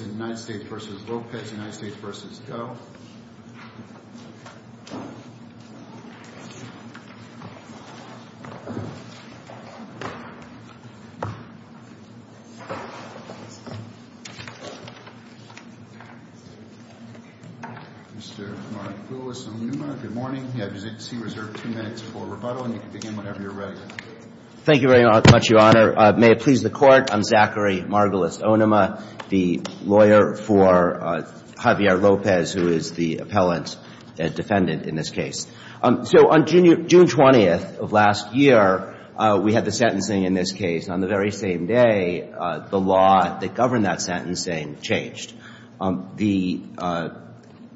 v. Doe. Mr. Margulis Onuma, good morning. You have your seat reserved two minutes for rebuttal and you can begin whenever you're ready. Thank you very much, Your Honor. May it please the Court. I'm Zachary Margulis Onuma, the lawyer for Javier Lopez, who is the appellant defendant in this case. So on June 20th of last year, we had the sentencing in this case. On the very same day, the law that governed that sentencing changed. The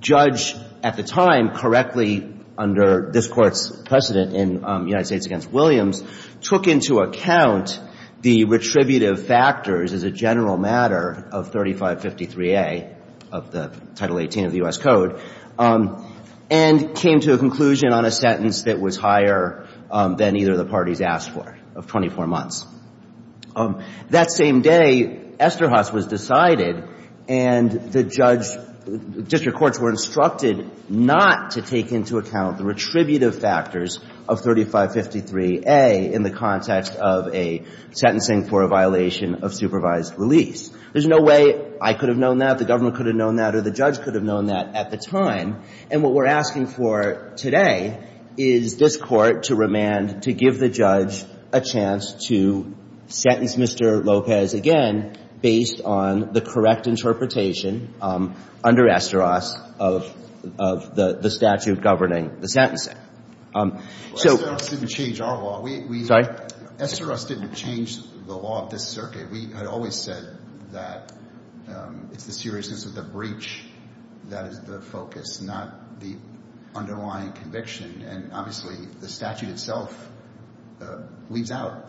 judge at the time, correctly under this Court's precedent in United States v. Williams, took into account the retributive factors as a general matter of 3553A of the Title 18 of the U.S. Code and came to a conclusion on a sentence that was higher than either of the parties asked for, of 24 months. That same day, Esterhaz was decided and the judge, district courts were instructed not to take into account the retributive factors of 3553A in the context of a sentencing for a violation of supervised release. There's no way I could have known that, the government could have known that, or the judge could have known that at the time. And what we're asking for today is this Court to remand, to give the judge a chance to sentence Mr. Lopez again, based on the correct interpretation under Esterhaz of the statute governing the sentencing. Esterhaz didn't change our law. Sorry? Esterhaz didn't change the law of this circuit. We had always said that it's the seriousness of the breach that is the focus, not the underlying conviction. And obviously, the statute itself leaves out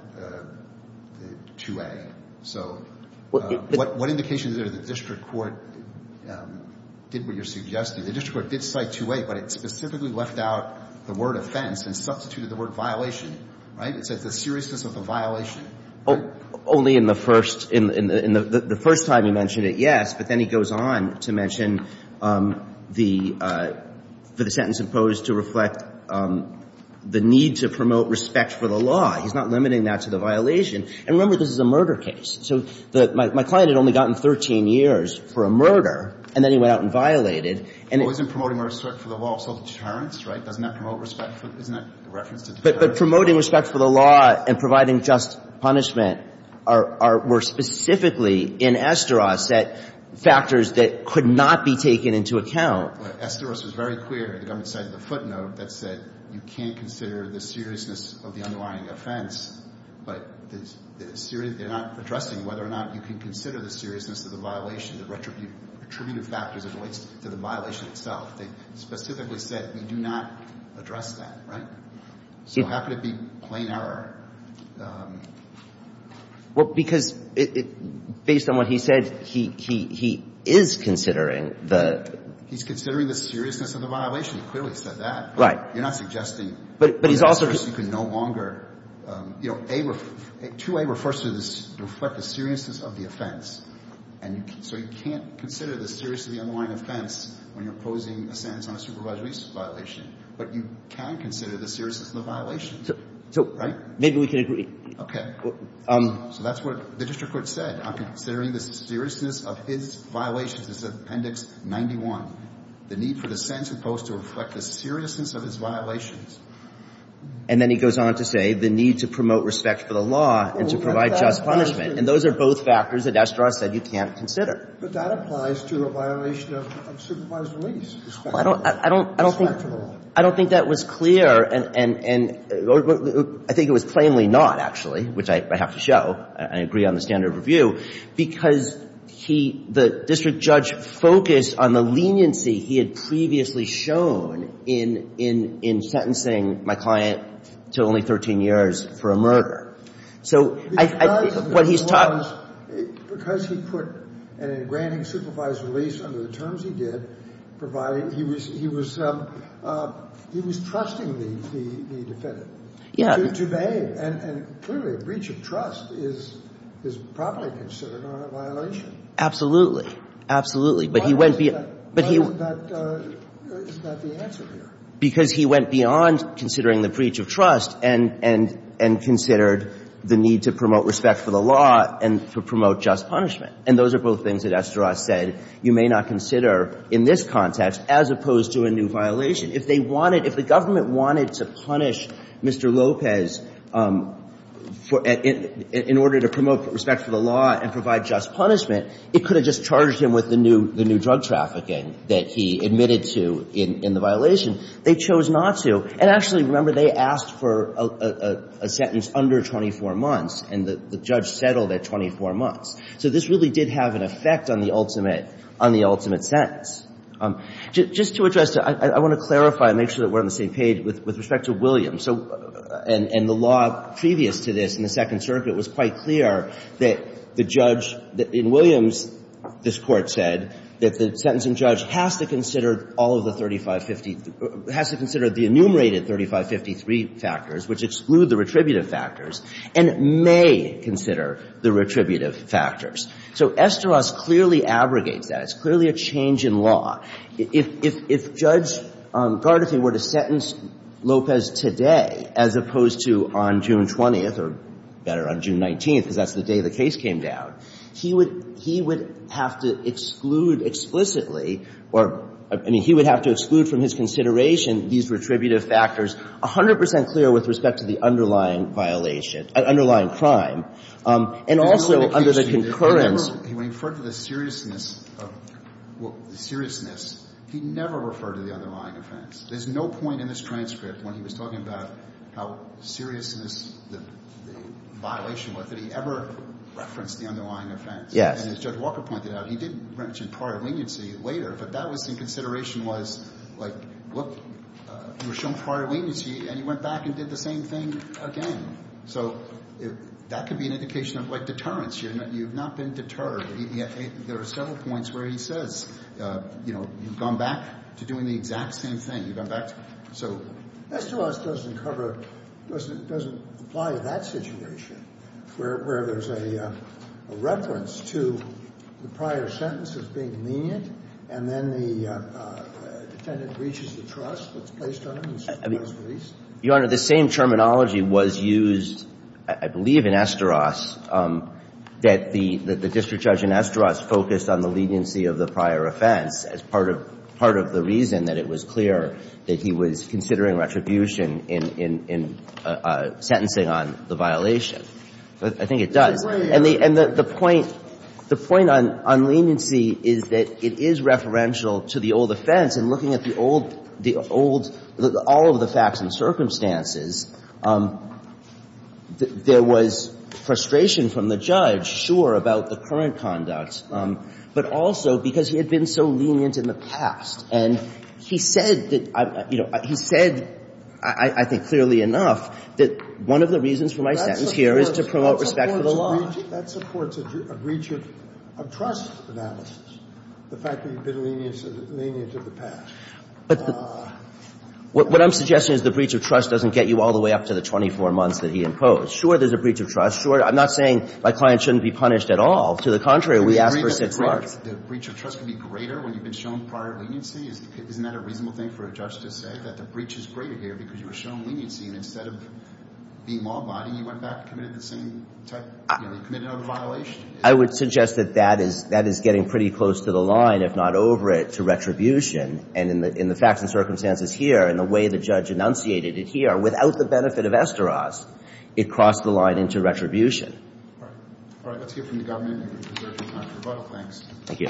2A. So what indication is there that district court did what you're suggesting? The district court did cite 2A, but it specifically left out the word offense and substituted the word violation, right? It says the seriousness of the violation. Only in the first — in the first time he mentioned it, yes, but then he goes on to mention the — for the sentence imposed to reflect the need to promote respect for the law. He's not limiting that to the violation. And remember, this is a murder case. So the — my client had only gotten 13 years for a murder, and then he went out and violated, and — Well, isn't promoting respect for the law also deterrence, right? Doesn't that promote respect for — isn't that a reference to deterrence? But promoting respect for the law and providing just punishment are — were specifically in Estoros set factors that could not be taken into account. Well, Estoros was very clear in the government side of the footnote that said you can't consider the seriousness of the underlying offense, but the — they're not addressing whether or not you can consider the seriousness of the violation, the retributive factors as it relates to the violation itself. They specifically said we do not address that, right? So how could it be plain error? Well, because it — based on what he said, he — he is considering the — He's considering the seriousness of the violation. He clearly said that. Right. But you're not suggesting that in Estoros you can no longer — you know, A — 2A refers to the — to reflect the seriousness of the offense. And so you can't consider the seriousness of the underlying offense when you're posing a sentence on a supervised release violation. But you can consider the seriousness of the violation. So — so maybe we can agree. Okay. So that's what the district court said. I'm considering the seriousness of his violations. It's Appendix 91. The need for the sentence opposed to reflect the seriousness of his violations. And then he goes on to say the need to promote respect for the law and to provide just punishment. And those are both factors that Estoros said you can't consider. But that applies to a violation of supervised release, respect for the law. Well, I don't — I don't — I don't think — I don't think that was clear, and — and I think it was plainly not, actually, which I have to show. I agree on the standard of review, because he — the district judge focused on the leniency he had previously shown in — in — in sentencing my client to only 13 years for a murder. So I — I think what he's talking — Because of the law, because he put a granting supervised release under the terms he did, providing — he was — he was — he was trusting the — the defendant. Yeah. To — to them. And — and clearly, a breach of trust is — is probably considered a violation. Absolutely. Absolutely. But he went beyond — Why was that — why was that — is that the answer here? Because he went beyond considering the breach of trust and — and — and considered the need to promote respect for the law and to promote just punishment. And those are both things that Esterház said you may not consider in this context, as opposed to a new violation. If they wanted — if the government wanted to punish Mr. López for — in — in order to promote respect for the law and provide just punishment, it could have just charged him with the new — the new drug trafficking that he admitted to in — in the violation. They chose not to. And actually, remember, they asked for a — a — a sentence under 24 months, and the — the judge settled at 24 months. So this really did have an effect on the ultimate — on the ultimate sentence. Just — just to address — I want to clarify and make sure that we're on the same page with — with respect to Williams. So — and — and the law previous to this in the Second Circuit was quite clear that the judge — in Williams, this Court said that the sentencing judge has to consider all of the 3550 — has to consider the enumerated 3553 factors, which exclude the retributive factors, and may consider the retributive factors. So Esterház clearly abrogates that. It's clearly a change in law. If — if — if Judge Gardethi were to sentence López today, as opposed to on June 20th, or better, on June 19th, because that's the day the case came down, he would — he would have to exclude explicitly or — I mean, he would have to exclude from his consideration these retributive factors, 100 percent clear with respect to the underlying violation — underlying crime, and also under the concurrence. When he referred to the seriousness of — seriousness, he never referred to the underlying offense. There's no point in this transcript when he was talking about how serious the — the violation was that he ever referenced the underlying offense. Yes. And as Judge Walker pointed out, he did mention prior leniency later, but that was in consideration was, like, look, you were shown prior leniency, and you went back and did the same thing again. So that could be an indication of, like, deterrence. You're not — you've not been deterred. There are several points where he says, you know, you've gone back to doing the exact same thing. You've gone back to — so — Esterház doesn't cover — doesn't — doesn't apply to that situation, where there's a — a reference to the prior sentence as being lenient, and then the defendant breaches the trust that's placed on him, and so he does release. Your Honor, the same terminology was used, I believe, in Esterház, that the — that the district judge in Esterház focused on the leniency of the prior offense as part of — part of the reason that it was clear that he was considering retribution in — in — in sentencing on the violation. But I think it does. And the — and the point — the point on — on leniency is that it is referential to the old offense, and looking at the old — the old — all of the facts and circumstances, there was frustration from the judge, sure, about the current conduct, but also because he had been so lenient in the past. And he said that — you know, he said, I think, clearly enough, that one of the reasons for my sentence here is to promote respect for the law. That supports a breach of — of trust analysis, the fact that you've been lenient — lenient in the past. But the — what I'm suggesting is the breach of trust doesn't get you all the way up to the 24 months that he imposed. Sure, there's a breach of trust. Sure, I'm not saying my client shouldn't be punished at all. To the contrary, we ask for six months. The breach of trust can be greater when you've been shown prior leniency? Isn't that a reasonable thing for a judge to say, that the breach is greater here because you were shown leniency, and instead of being law-abiding, you went back and committed the same type — you know, you committed another violation? I would suggest that that is — that is getting pretty close to the line, if not over it, to retribution. And in the — in the facts and circumstances here, and the way the judge enunciated it here, without the benefit of esteros, it crossed the line into retribution. All right. All right. Let's hear from the government. And we'll hear from Dr. Buck. Thanks. Thank you.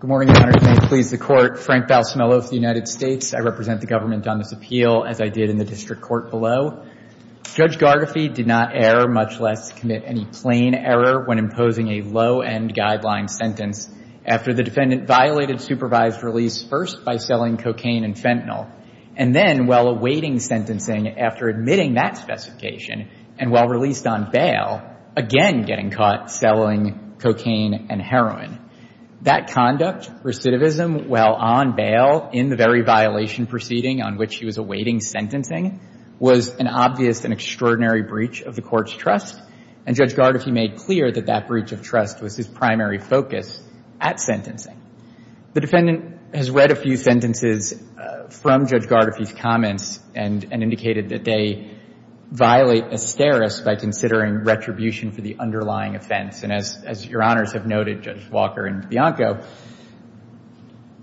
Good morning, Your Honor, and may it please the Court. Frank Balsamillo with the United States. I represent the government on this appeal, as I did in the district court below. Judge Gargafee did not err, much less commit any plain error, when imposing a low-end guideline sentence after the defendant violated supervised release first by selling cocaine and fentanyl, and then, while awaiting sentencing, after admitting that specification, and while released on bail, again getting caught selling cocaine and heroin. That conduct, recidivism, while on bail in the very violation proceeding on which he was awaiting sentencing, was an obvious and extraordinary breach of the Court's trust. And Judge Gargafee made clear that that breach of trust was his primary focus at sentencing. The defendant has read a few sentences from Judge Gargafee's comments and — and indicated that they violate asterisks by considering retribution for the underlying offense. And as — as Your Honors have noted, Judge Walker and Bianco,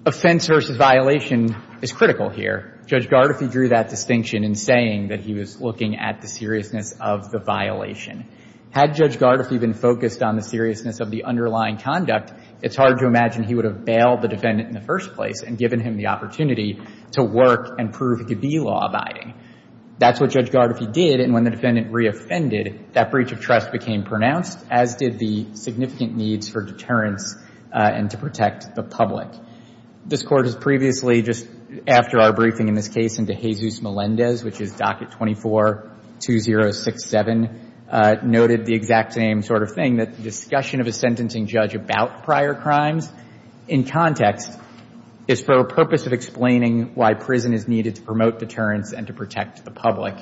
offense versus violation is critical here. Judge Gargafee drew that distinction in saying that he was looking at the seriousness of the violation. Had Judge Gargafee been focused on the seriousness of the underlying conduct, it's hard to imagine he would have bailed the defendant in the first place and given him the opportunity to work and prove it could be law-abiding. That's what Judge Gargafee did. And when the defendant reoffended, that breach of trust became pronounced, as did the significant needs for deterrence and to protect the This Court has previously, just after our briefing in this case into Jesus Melendez, which is Docket 24-2067, noted the exact same sort of thing, that the discussion of a sentencing judge about prior crimes in context is for a purpose of explaining why prison is needed to promote deterrence and to protect the public.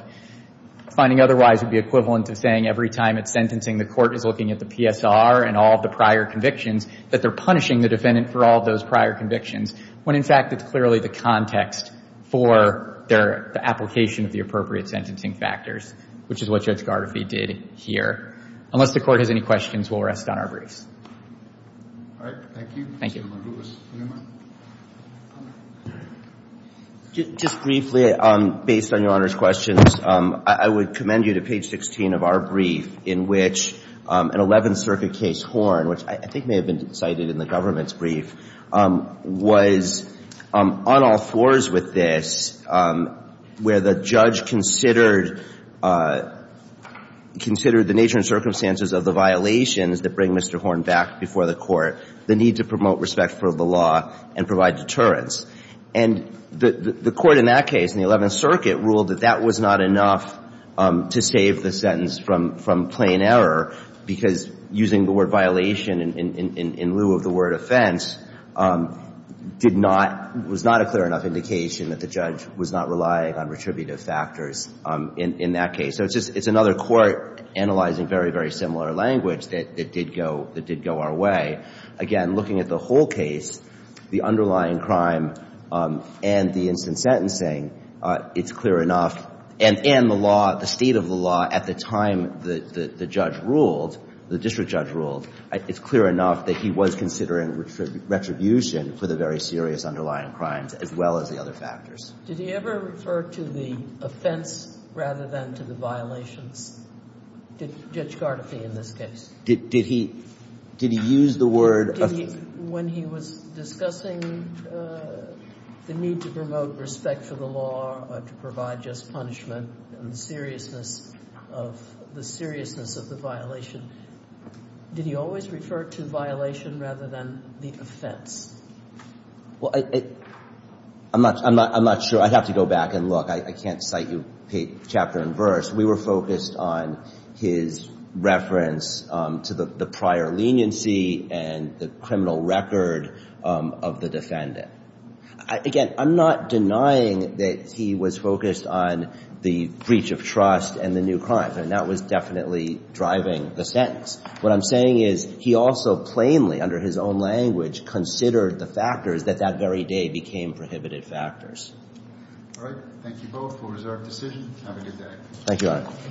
Finding otherwise would be equivalent to saying every time at sentencing the court is looking at the PSR and all of the prior convictions, that they're punishing the defendant for all of those prior convictions, when, in fact, it's clearly the context for their — the application of the appropriate sentencing factors, which is what Judge Gargafee did here. Unless the Court has any questions, we'll rest on our briefs. All right. Thank you. Thank you. Mr. Margulis, do you have a question? Just briefly, based on Your Honor's questions, I would commend you to page 16 of our brief, in which an Eleventh Circuit case horn, which I think may have been cited in the government's brief, was on all fours with this, where the judge considered — considered the nature and circumstances of the violations that bring Mr. Horn back before the Court, the need to promote respect for the law and provide deterrence. And the — the Court in that case, in the Eleventh Circuit, ruled that that was not enough to save the sentence from — from plain error, because using the word violation in lieu of the word offense did not — was not a clear enough indication that the judge was not relying on retributive factors in that case. So it's just — it's another court analyzing very, very similar language that did go — that did go our way. Again, looking at the whole case, the underlying crime and the instant sentencing, it's clear enough, and — and the law, the state of the law at the time the — the judge ruled, the district judge ruled, it's clear enough that he was considering retribution for the very serious underlying crimes, as well as the other factors. Did he ever refer to the offense rather than to the violations? Did — Judge Gardefee in this case? Did — did he — did he use the word — Did he — when he was discussing the need to promote respect for the law or to provide just punishment and seriousness of — the seriousness of the violation, did he always refer to violation rather than the offense? Well, I — I'm not — I'm not — I'm not sure. I'd have to go back and look. I can't cite you chapter and verse. We were focused on his reference to the — the prior leniency and the criminal record of the defendant. Again, I'm not denying that he was focused on the breach of trust and the new crimes, and that was definitely driving the sentence. What I'm saying is he also plainly, under his own language, considered the factors that that very day became prohibited factors. All right. Thank you both for a reserved decision. Have a good day. Thank you, Your Honor.